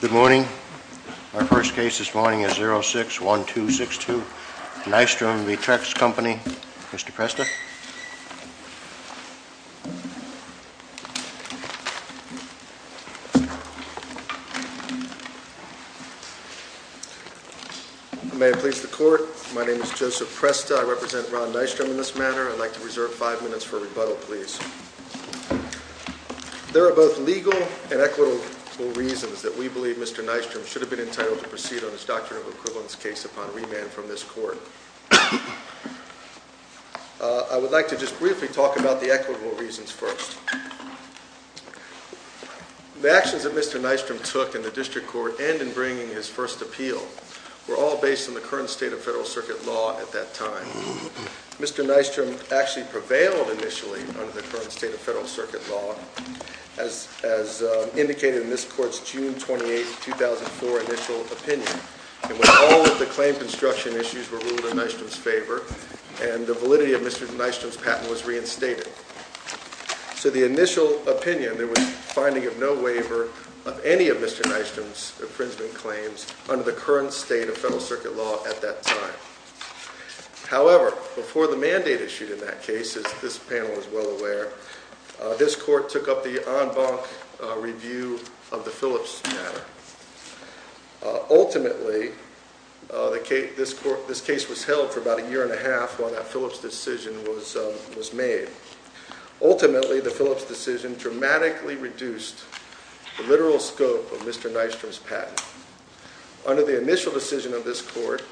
Good morning. Our first case this morning is 06-1262 Nystrom v. Trex Company. Mr. Presta. May it please the court, my name is Joseph Presta. I represent Ron Nystrom in this matter. I'd like to reserve five minutes for rebuttal, please. There are both legal and equitable reasons that we believe Mr. Nystrom should have been entitled to proceed on his doctrine of equivalence case upon remand from this court. I would like to just briefly talk about the equitable reasons first. The actions that Mr. Nystrom took in the district court and in bringing his first appeal were all based on the current state of federal circuit law at that time. Mr. Nystrom actually prevailed initially under the current state of federal circuit law as indicated in this court's June 28, 2004 initial opinion. It was all of the claim construction issues were ruled in Nystrom's favor and the validity of Mr. Nystrom's patent was reinstated. So the initial opinion, there was finding of no waiver of any of Mr. Nystrom's infringement claims under the current state of federal circuit law at that time. However, before the mandate issued in that case, as this panel is well aware, this court took up the en banc review of the Phillips matter. Ultimately, this case was held for about a year and a half while that Phillips decision was made. Ultimately, the Phillips decision dramatically reduced the literal scope of Mr. Nystrom's patent. Under the initial decision of this court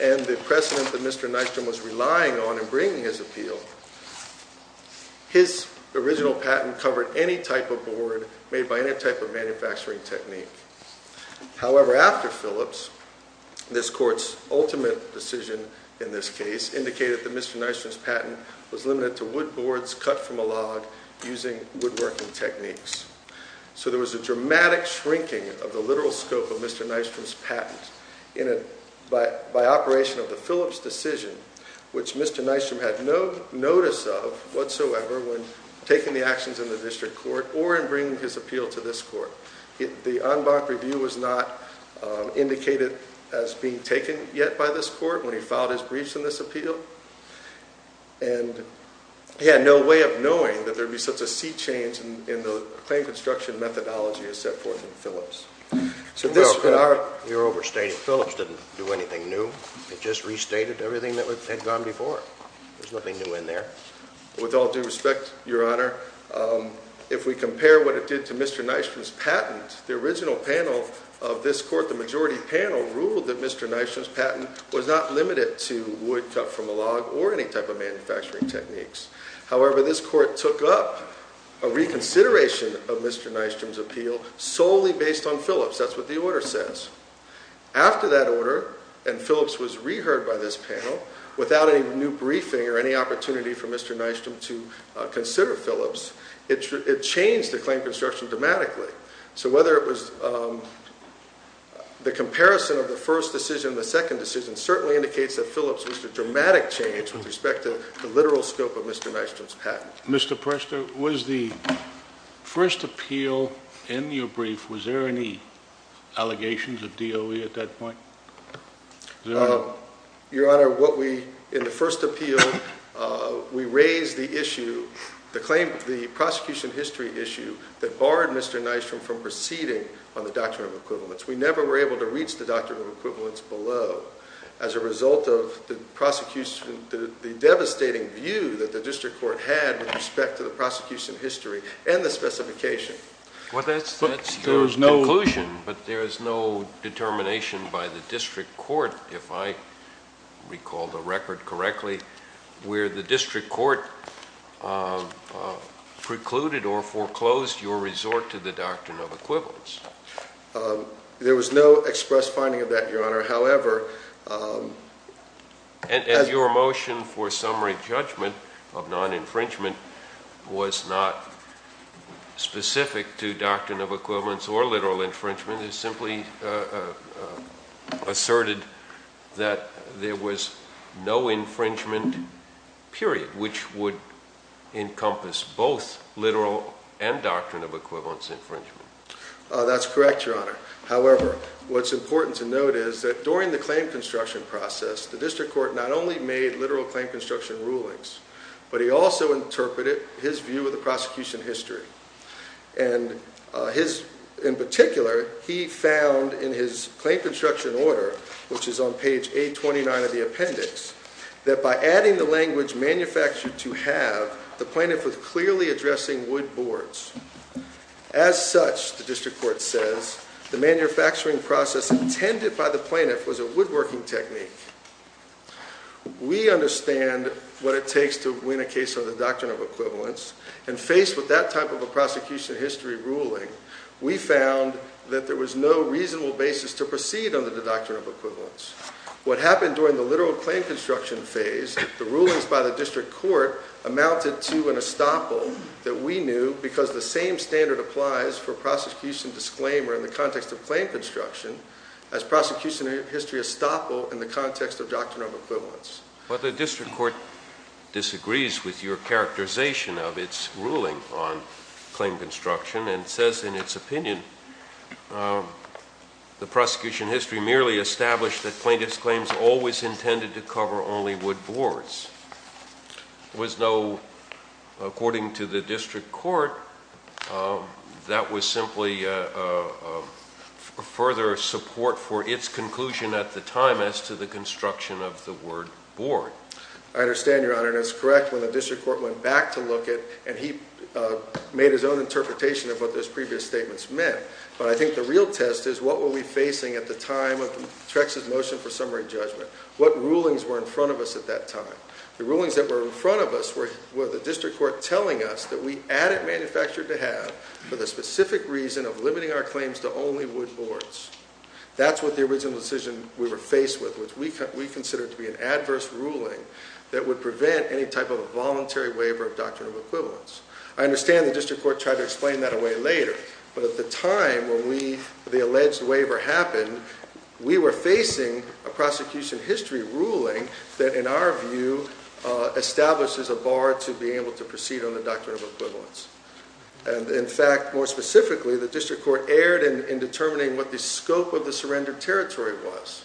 and the precedent that Mr. Nystrom was relying on in bringing his appeal, his original patent covered any type of board made by any type of manufacturing technique. However, after Phillips, this court's ultimate decision in this case indicated that Mr. Nystrom's patent was limited to wood boards cut from a log using woodworking techniques. So there was a dramatic shrinking of the literal scope of Mr. Nystrom's patent by operation of the Phillips decision, which Mr. Nystrom had no notice of whatsoever when taking the actions in the district court or in bringing his appeal to this court. The en banc review was not indicated as being taken yet by this court when he filed his briefs in this appeal. He had no way of knowing that there would be such a sea change in the claim construction methodology as set forth in Phillips. We were overstated. Phillips didn't do anything new. It just restated everything that had gone before. There's nothing new in there. With all due respect, Your Honor, if we compare what it did to Mr. Nystrom's patent, the original panel of this court, the majority panel, ruled that Mr. Nystrom's patent was not limited to wood cut from a log or any type of manufacturing techniques. However, this court took up a reconsideration of Mr. Nystrom's appeal solely based on Phillips. That's what the order says. After that order, and Phillips was reheard by this panel, without any new briefing or any opportunity for Mr. Nystrom to consider Phillips, it changed the claim construction dramatically. So whether it was the comparison of the first decision and the second decision certainly indicates that Phillips was a dramatic change with respect to the literal scope of Mr. Nystrom's patent. Mr. Prester, was the first appeal in your brief, was there any allegations of DOE at that point? Your Honor, in the first appeal, we raised the prosecution history issue that barred Mr. Nystrom from proceeding on the Doctrine of Equivalence. We never were able to reach the Doctrine of Equivalence below as a result of the devastating view that the district court had with respect to the prosecution history and the specification. Well, that's your conclusion, but there is no determination by the district court, if I recall the record correctly, where the district court precluded or foreclosed your resort to the Doctrine of Equivalence. There was no express finding of that, Your Honor. And your motion for summary judgment of non-infringement was not specific to Doctrine of Equivalence or literal infringement. It simply asserted that there was no infringement, period, which would encompass both literal and Doctrine of Equivalence infringement. That's correct, Your Honor. However, what's important to note is that during the claim construction process, the district court not only made literal claim construction rulings, but he also interpreted his view of the prosecution history. And in particular, he found in his claim construction order, which is on page 829 of the appendix, that by adding the language manufactured to have, the plaintiff was clearly addressing wood boards. As such, the district court says, the manufacturing process intended by the plaintiff was a woodworking technique. We understand what it takes to win a case under the Doctrine of Equivalence, and faced with that type of a prosecution history ruling, we found that there was no reasonable basis to proceed under the Doctrine of Equivalence. What happened during the literal claim construction phase, the rulings by the district court amounted to an estoppel that we knew, because the same standard applies for prosecution disclaimer in the context of claim construction, as prosecution history estoppel in the context of Doctrine of Equivalence. But the district court disagrees with your characterization of its ruling on claim construction, and says in its opinion, the prosecution history merely established that plaintiff's claims always intended to cover only wood boards. There was no, according to the district court, that was simply further support for its conclusion at the time as to the construction of the word board. I understand, Your Honor, and it's correct when the district court went back to look at, and he made his own interpretation of what those previous statements meant. But I think the real test is what were we facing at the time of Trex's motion for summary judgment? What rulings were in front of us at that time? The rulings that were in front of us were the district court telling us that we added manufactured to have, for the specific reason of limiting our claims to only wood boards. That's what the original decision we were faced with, which we considered to be an adverse ruling that would prevent any type of a voluntary waiver of Doctrine of Equivalence. I understand the district court tried to explain that away later, but at the time when the alleged waiver happened, we were facing a prosecution history ruling that, in our view, establishes a bar to be able to proceed on the Doctrine of Equivalence. And in fact, more specifically, the district court erred in determining what the scope of the surrender territory was.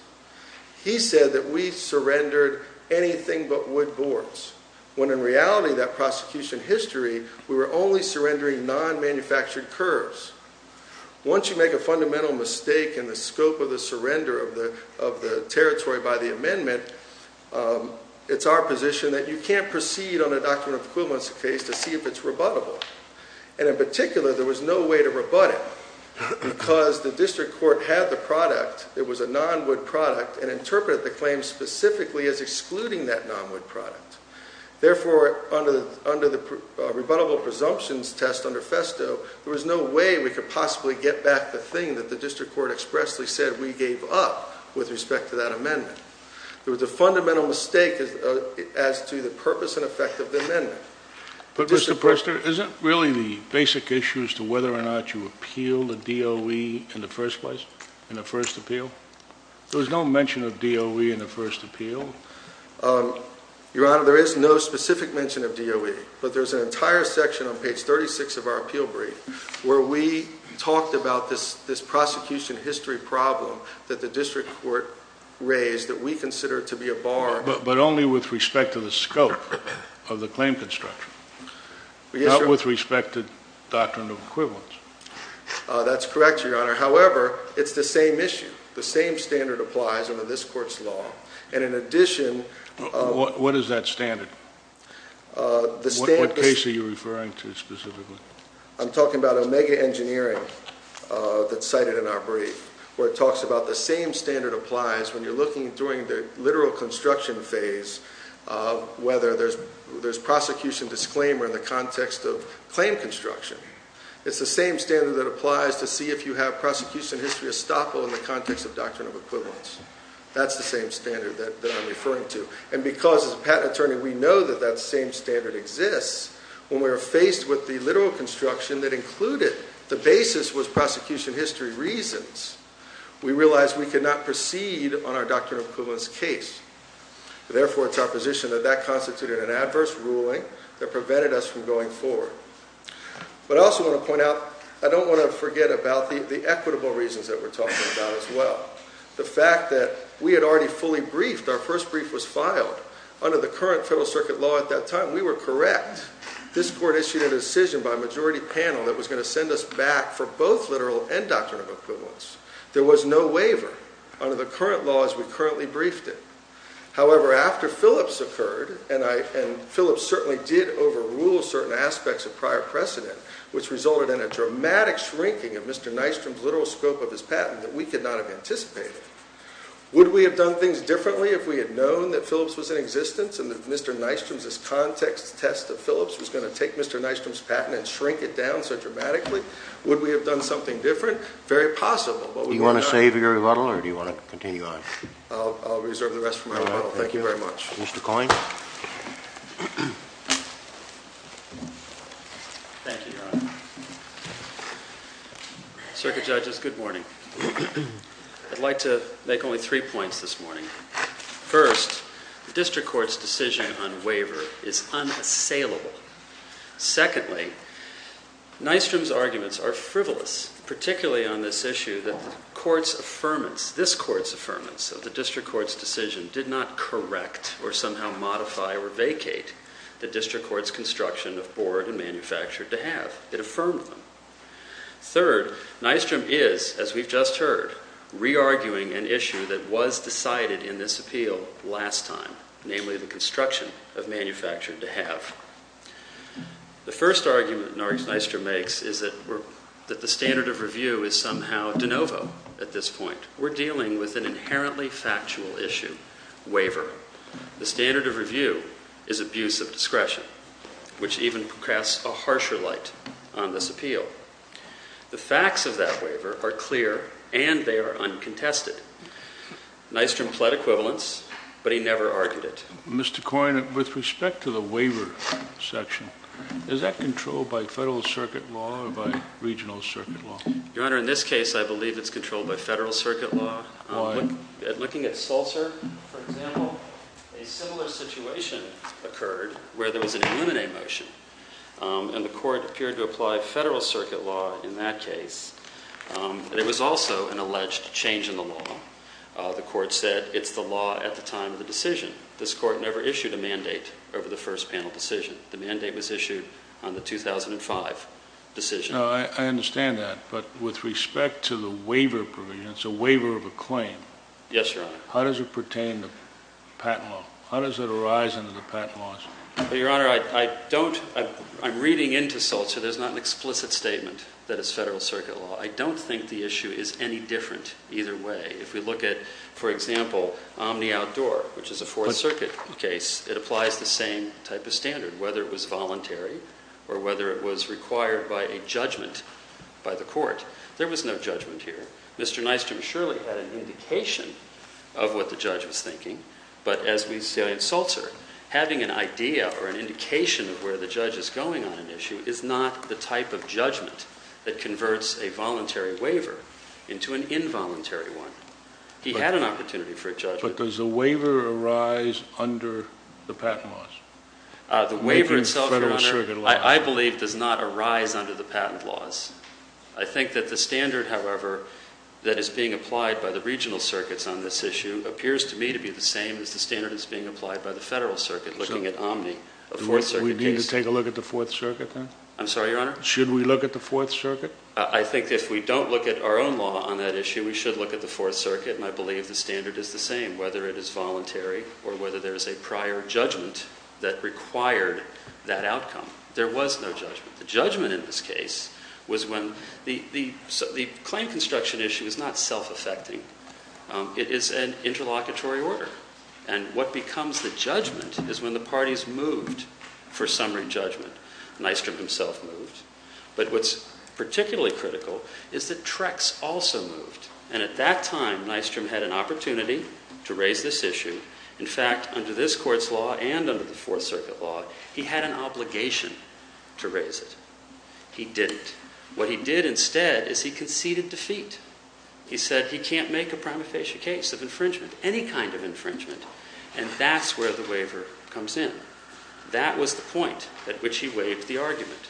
He said that we surrendered anything but wood boards, when in reality, that prosecution history, we were only surrendering non-manufactured curves. Once you make a fundamental mistake in the scope of the surrender of the territory by the amendment, it's our position that you can't proceed on a Doctrine of Equivalence case to see if it's rebuttable. And in particular, there was no way to rebut it, because the district court had the product, it was a non-wood product, and interpreted the claim specifically as excluding that non-wood product. Therefore, under the rebuttable presumptions test under FESTO, there was no way we could possibly get back the thing that the district court expressly said we gave up with respect to that amendment. It was a fundamental mistake as to the purpose and effect of the amendment. But Mr. Prester, is it really the basic issue as to whether or not you appealed the DOE in the first place, in the first appeal? There was no mention of DOE in the first appeal. Your Honor, there is no specific mention of DOE, but there's an entire section on page 36 of our appeal brief where we talked about this prosecution history problem that the district court raised that we consider to be a bar. But only with respect to the scope of the claim construction, not with respect to Doctrine of Equivalence. That's correct, Your Honor. However, it's the same issue. The same standard applies under this court's law. And in addition... What is that standard? What case are you referring to specifically? I'm talking about Omega Engineering that's cited in our brief where it talks about the same standard applies when you're looking during the literal construction phase whether there's prosecution disclaimer in the context of claim construction. It's the same standard that applies to see if you have prosecution history estoppel in the context of Doctrine of Equivalence. That's the same standard that I'm referring to. And because as a patent attorney we know that that same standard exists, when we were faced with the literal construction that included the basis was prosecution history reasons, we realized we could not proceed on our Doctrine of Equivalence case. Therefore, it's our position that that constituted an adverse ruling that prevented us from going forward. But I also want to point out, I don't want to forget about the equitable reasons that we're talking about as well. The fact that we had already fully briefed, our first brief was filed under the current Federal Circuit law at that time. We were correct. This court issued a decision by a majority panel that was going to send us back for both literal and Doctrine of Equivalence. There was no waiver under the current law as we currently briefed it. However, after Phillips occurred, and Phillips certainly did overrule certain aspects of prior precedent, which resulted in a dramatic shrinking of Mr. Nystrom's literal scope of his patent that we could not have anticipated. Would we have done things differently if we had known that Phillips was in existence and that Mr. Nystrom's context test of Phillips was going to take Mr. Nystrom's patent and shrink it down so dramatically? Would we have done something different? Very possible. Do you want to save your rebuttal or do you want to continue on? I'll reserve the rest for my rebuttal. Thank you very much. Mr. Coyne. Thank you, Your Honor. Circuit Judges, good morning. I'd like to make only three points this morning. First, the District Court's decision on waiver is unassailable. Secondly, Nystrom's arguments are frivolous, particularly on this issue that the court's affirmance, this court's affirmance of the District Court's decision, did not correct or somehow modify or vacate the District Court's construction of board and manufactured to have. It affirmed them. Third, Nystrom is, as we've just heard, re-arguing an issue that was decided in this appeal last time, namely the construction of manufactured to have. The first argument Nystrom makes is that the standard of review is somehow de novo at this point. We're dealing with an inherently factual issue, waiver. The standard of review is abuse of discretion, which even casts a harsher light on this appeal. The facts of that waiver are clear and they are uncontested. Nystrom pled equivalence, but he never argued it. Mr. Coyne, with respect to the waiver section, is that controlled by Federal Circuit law or by Regional Circuit law? Your Honor, in this case, I believe it's controlled by Federal Circuit law. Why? Looking at Sulzer, for example, a similar situation occurred where there was an Illuminate motion, and the court appeared to apply Federal Circuit law in that case. There was also an alleged change in the law. The court said it's the law at the time of the decision. This court never issued a mandate over the first panel decision. The mandate was issued on the 2005 decision. I understand that, but with respect to the waiver provision, it's a waiver of a claim. Yes, Your Honor. How does it pertain to patent law? How does it arise under the patent laws? Your Honor, I'm reading into Sulzer. There's not an explicit statement that it's Federal Circuit law. I don't think the issue is any different either way. If we look at, for example, Omni Outdoor, which is a Fourth Circuit case, it applies the same type of standard, whether it was voluntary or whether it was required by a judgment by the court. There was no judgment here. Mr. Nystrom surely had an indication of what the judge was thinking, but as we see in Sulzer, having an idea or an indication of where the judge is going on an issue is not the type of judgment that converts a voluntary waiver into an involuntary one. He had an opportunity for a judgment. But does the waiver arise under the patent laws? The waiver itself, Your Honor, I believe does not arise under the patent laws. I think that the standard, however, that is being applied by the regional circuits on this issue appears to me to be the same as the standard that's being applied by the Federal Circuit looking at Omni, a Fourth Circuit case. Do we need to take a look at the Fourth Circuit then? I'm sorry, Your Honor? Should we look at the Fourth Circuit? I think if we don't look at our own law on that issue, we should look at the Fourth Circuit, and I believe the standard is the same whether it is voluntary or whether there is a prior judgment that required that outcome. There was no judgment. The judgment in this case was when the claim construction issue is not self-affecting. It is an interlocutory order, and what becomes the judgment is when the parties moved for summary judgment. Nystrom himself moved. But what's particularly critical is that Trex also moved, and at that time Nystrom had an opportunity to raise this issue. In fact, under this Court's law and under the Fourth Circuit law, he had an obligation to raise it. He didn't. What he did instead is he conceded defeat. He said he can't make a prima facie case of infringement, any kind of infringement, and that's where the waiver comes in. That was the point at which he waived the argument.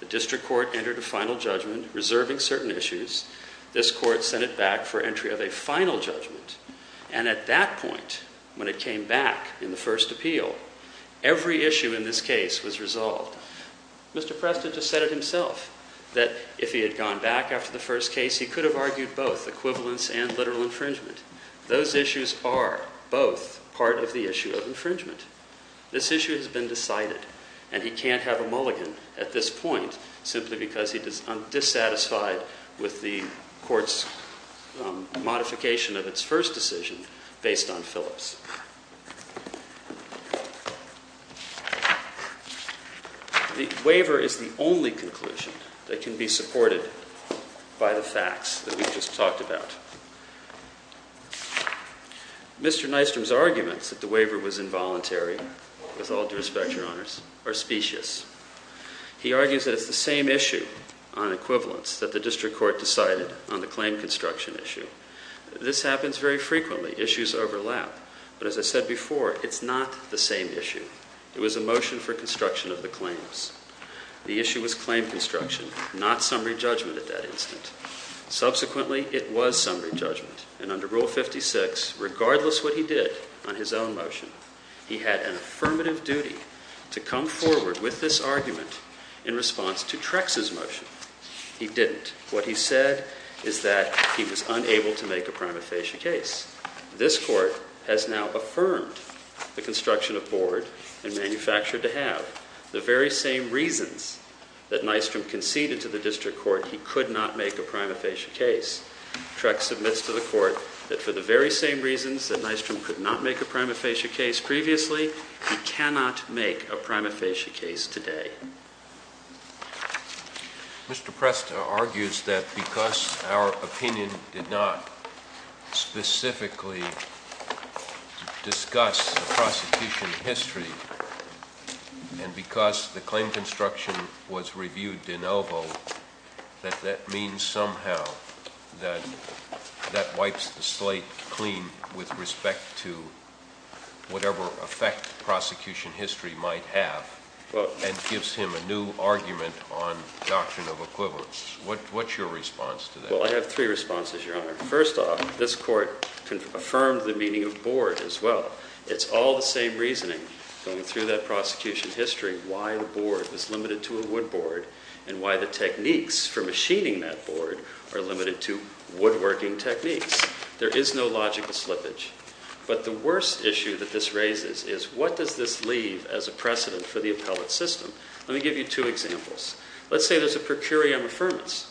The district court entered a final judgment reserving certain issues. This court sent it back for entry of a final judgment, and at that point when it came back in the first appeal, every issue in this case was resolved. Mr. Preston just said it himself that if he had gone back after the first case, he could have argued both equivalence and literal infringement. Those issues are both part of the issue of infringement. This issue has been decided, and he can't have a mulligan at this point simply because he is dissatisfied with the Court's modification of its first decision based on Phillips. The waiver is the only conclusion that can be supported by the facts that we just talked about. Mr. Nystrom's arguments that the waiver was involuntary, with all due respect, Your Honors, are specious. He argues that it's the same issue on equivalence that the district court decided on the claim construction issue. This happens very frequently. Issues overlap. But as I said before, it's not the same issue. It was a motion for construction of the claims. The issue was claim construction, not summary judgment at that instant. Subsequently, it was summary judgment, and under Rule 56, regardless of what he did on his own motion, he had an affirmative duty to come forward with this argument in response to Trex's motion. He didn't. What he said is that he was unable to make a prima facie case. This Court has now affirmed the construction of board and manufactured to have the very same reasons that Nystrom conceded to the district court he could not make a prima facie case. Trex submits to the Court that for the very same reasons that Nystrom could not make a prima facie case previously, he cannot make a prima facie case today. Mr. Presta argues that because our opinion did not specifically discuss the prosecution history, and because the claim construction was reviewed de novo, that that means somehow that that wipes the slate clean with respect to whatever effect prosecution history might have, and gives him a new argument on doctrine of equivalence. What's your response to that? Well, I have three responses, Your Honor. First off, this Court affirmed the meaning of board as well. It's all the same reasoning going through that prosecution history, why the board was limited to a wood board, and why the techniques for machining that board are limited to woodworking techniques. There is no logical slippage. But the worst issue that this raises is what does this leave as a precedent for the appellate system? Let me give you two examples. Let's say there's a per curiam affirmance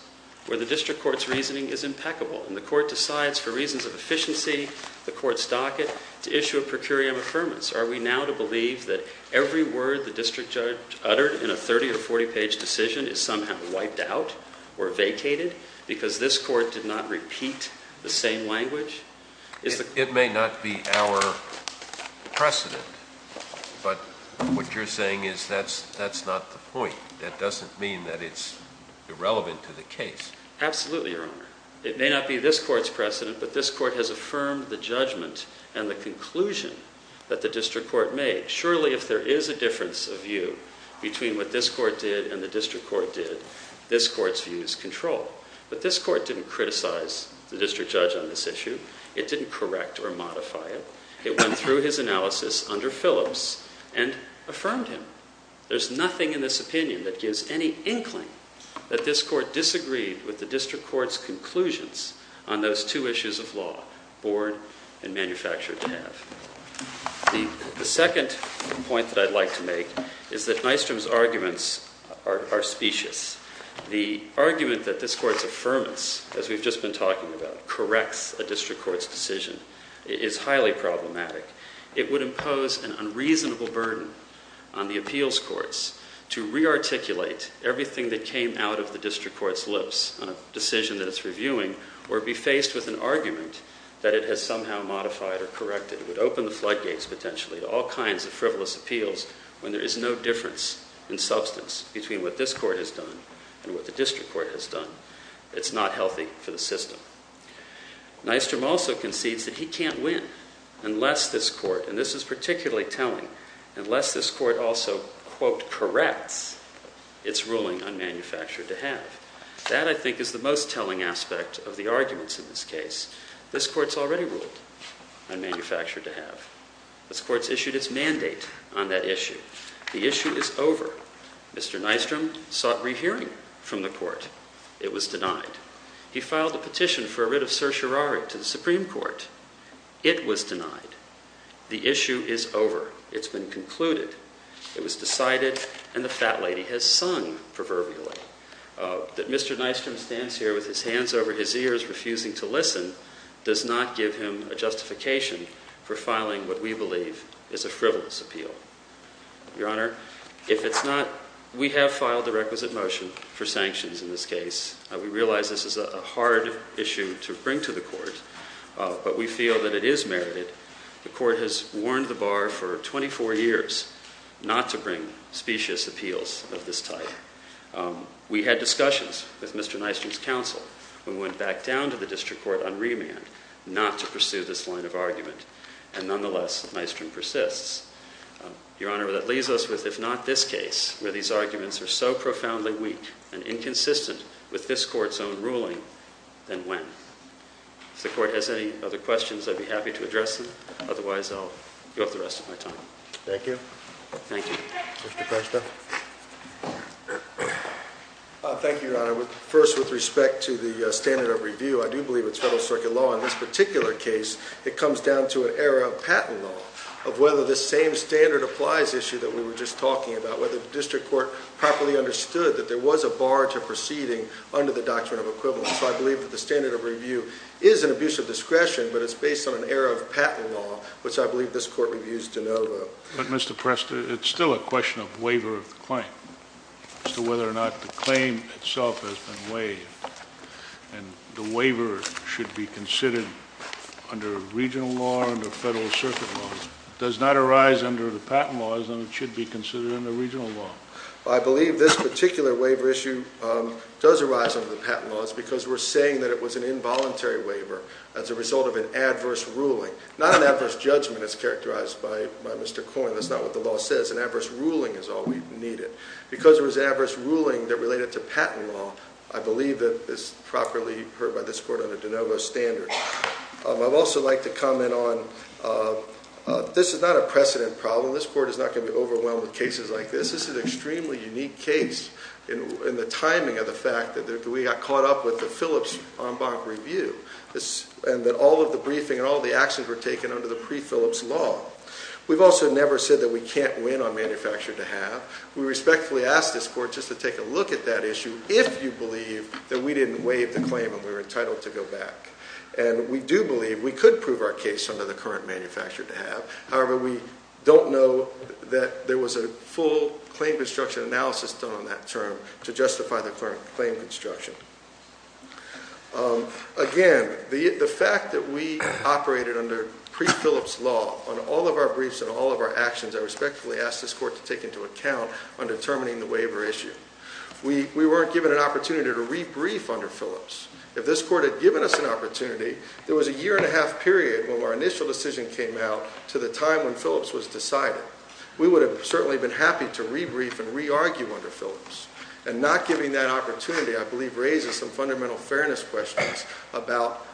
where the district court's reasoning is impeccable, and the court decides for reasons of efficiency, the court's docket, to issue a per curiam affirmance. Are we now to believe that every word the district judge uttered in a 30- or 40-page decision is somehow wiped out or vacated because this court did not repeat the same language? It may not be our precedent, but what you're saying is that's not the point. That doesn't mean that it's irrelevant to the case. Absolutely, Your Honor. It may not be this court's precedent, but this court has affirmed the judgment and the conclusion that the district court made. Surely if there is a difference of view between what this court did and the district court did, this court's view is control. But this court didn't criticize the district judge on this issue. It didn't correct or modify it. It went through his analysis under Phillips and affirmed him. There's nothing in this opinion that gives any inkling that this court disagreed with the district court's conclusions on those two issues of law, board and manufacturer, to have. The second point that I'd like to make is that Nystrom's arguments are specious. The argument that this court's affirmance, as we've just been talking about, corrects a district court's decision is highly problematic. It would impose an unreasonable burden on the appeals courts to rearticulate everything that came out of the district court's lips on a decision that it's reviewing or be faced with an argument that it has somehow modified or corrected. It would open the floodgates, potentially, to all kinds of frivolous appeals when there is no difference in substance between what this court has done and what the district court has done. It's not healthy for the system. Nystrom also concedes that he can't win unless this court, and this is particularly telling, unless this court also, quote, corrects its ruling on manufacture to have. That, I think, is the most telling aspect of the arguments in this case. This court's already ruled on manufacture to have. This court's issued its mandate on that issue. The issue is over. Mr. Nystrom sought rehearing from the court. It was denied. He filed a petition for a writ of certiorari to the Supreme Court. It was denied. The issue is over. It's been concluded. It was decided, and the fat lady has sung proverbially, that Mr. Nystrom stands here with his hands over his ears, refusing to listen, does not give him a justification for filing what we believe is a frivolous appeal. Your Honor, if it's not, we have filed the requisite motion for sanctions in this case. We realize this is a hard issue to bring to the court, but we feel that it is merited. The court has warned the bar for 24 years not to bring specious appeals of this type. We had discussions with Mr. Nystrom's counsel. We went back down to the district court on remand not to pursue this line of argument, and nonetheless, Nystrom persists. Your Honor, that leaves us with, if not this case, where these arguments are so profoundly weak and inconsistent with this court's own ruling, then when? If the court has any other questions, I'd be happy to address them. Otherwise, I'll give up the rest of my time. Thank you. Thank you. Mr. Kresta. Thank you, Your Honor. First, with respect to the standard of review, I do believe it's federal circuit law. In this particular case, it comes down to an error of patent law, of whether this same standard applies issue that we were just talking about, whether the district court properly understood that there was a bar to proceeding under the doctrine of equivalence. So I believe that the standard of review is an abuse of discretion, but it's based on an error of patent law, which I believe this court reviews de novo. But, Mr. Kresta, it's still a question of waiver of the claim, as to whether or not the claim itself has been waived. And the waiver should be considered under regional law, under federal circuit law. It does not arise under the patent laws, and it should be considered under regional law. I believe this particular waiver issue does arise under the patent laws, because we're saying that it was an involuntary waiver as a result of an adverse ruling. Not an adverse judgment, as characterized by Mr. Coyne. That's not what the law says. An adverse ruling is all we needed. Because it was an adverse ruling that related to patent law, I believe that it's properly heard by this court under de novo standards. I'd also like to comment on, this is not a precedent problem. This court is not going to be overwhelmed with cases like this. This is an extremely unique case, in the timing of the fact that we got caught up with the Phillips en banc review, and that all of the briefing and all of the actions were taken under the pre-Phillips law. We've also never said that we can't win on manufactured to have. We respectfully ask this court just to take a look at that issue, if you believe that we didn't waive the claim and we were entitled to go back. And we do believe we could prove our case under the current manufactured to have. However, we don't know that there was a full claim construction analysis done on that term, to justify the current claim construction. Again, the fact that we operated under pre-Phillips law on all of our briefs and all of our actions, I respectfully ask this court to take into account on determining the waiver issue. We weren't given an opportunity to re-brief under Phillips. If this court had given us an opportunity, there was a year and a half period when our initial decision came out, to the time when Phillips was decided. We would have certainly been happy to re-brief and re-argue under Phillips. And not giving that opportunity, I believe, raises some fundamental fairness questions about,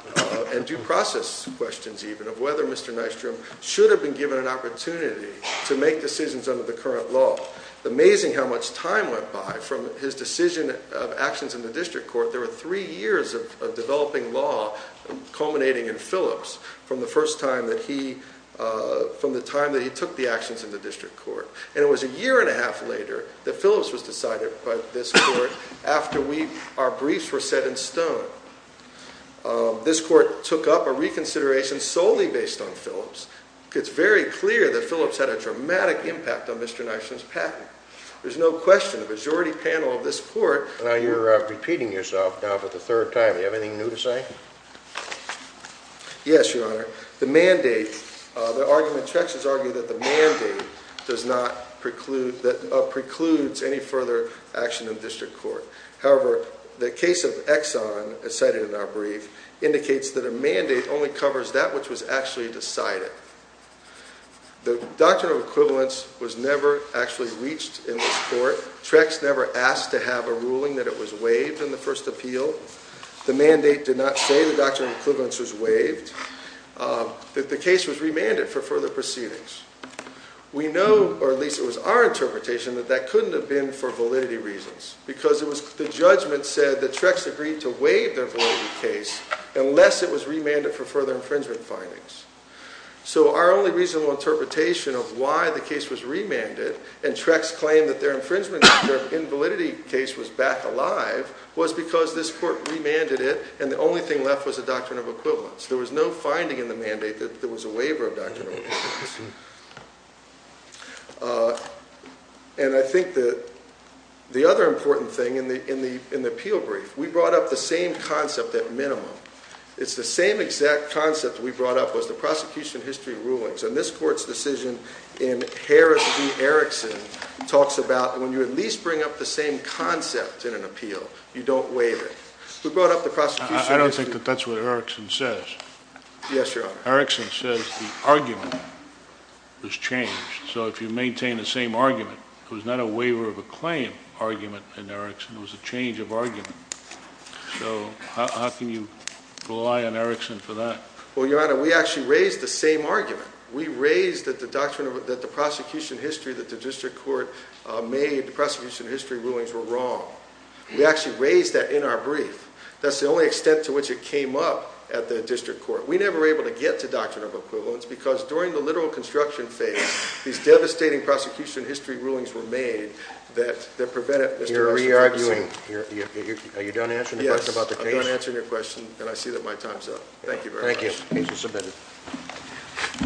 and due process questions even, of whether Mr. Nystrom should have been given an opportunity to make decisions under the current law. Amazing how much time went by from his decision of actions in the district court. There were three years of developing law culminating in Phillips, from the time that he took the actions in the district court. And it was a year and a half later that Phillips was decided by this court, after our briefs were set in stone. This court took up a reconsideration solely based on Phillips. It's very clear that Phillips had a dramatic impact on Mr. Nystrom's patent. There's no question the majority panel of this court... You're repeating yourself now for the third time. Do you have anything new to say? Yes, Your Honor. The mandate, the argument, Trex has argued that the mandate does not preclude, precludes any further action in district court. However, the case of Exxon, as cited in our brief, indicates that a mandate only covers that which was actually decided. The doctrine of equivalence was never actually reached in this court. Trex never asked to have a ruling that it was waived in the first appeal. The mandate did not say the doctrine of equivalence was waived. The case was remanded for further proceedings. We know, or at least it was our interpretation, that that couldn't have been for validity reasons. Because the judgment said that Trex agreed to waive the validity case unless it was remanded for further infringement findings. So our only reasonable interpretation of why the case was remanded, and Trex claimed that their infringement, their invalidity case was back alive, was because this court remanded it, and the only thing left was the doctrine of equivalence. There was no finding in the mandate that there was a waiver of doctrine of equivalence. And I think the other important thing in the appeal brief, we brought up the same concept at minimum. It's the same exact concept we brought up was the prosecution history rulings. And this court's decision in Harris v. Erickson talks about when you at least bring up the same concept in an appeal, you don't waive it. We brought up the prosecution history. I don't think that that's what Erickson says. Yes, Your Honor. Erickson says the argument was changed. So if you maintain the same argument, it was not a waiver of a claim argument in Erickson. It was a change of argument. So how can you rely on Erickson for that? Well, Your Honor, we actually raised the same argument. We raised that the prosecution history that the district court made, the prosecution history rulings, were wrong. We actually raised that in our brief. That's the only extent to which it came up at the district court. We never were able to get to doctrine of equivalence because during the literal construction phase, these devastating prosecution history rulings were made that prevented Mr. Erickson. You're re-arguing. Are you done answering the question about the case? Yes, I'm done answering your question, and I see that my time's up. Thank you very much. Thank you. Case is submitted.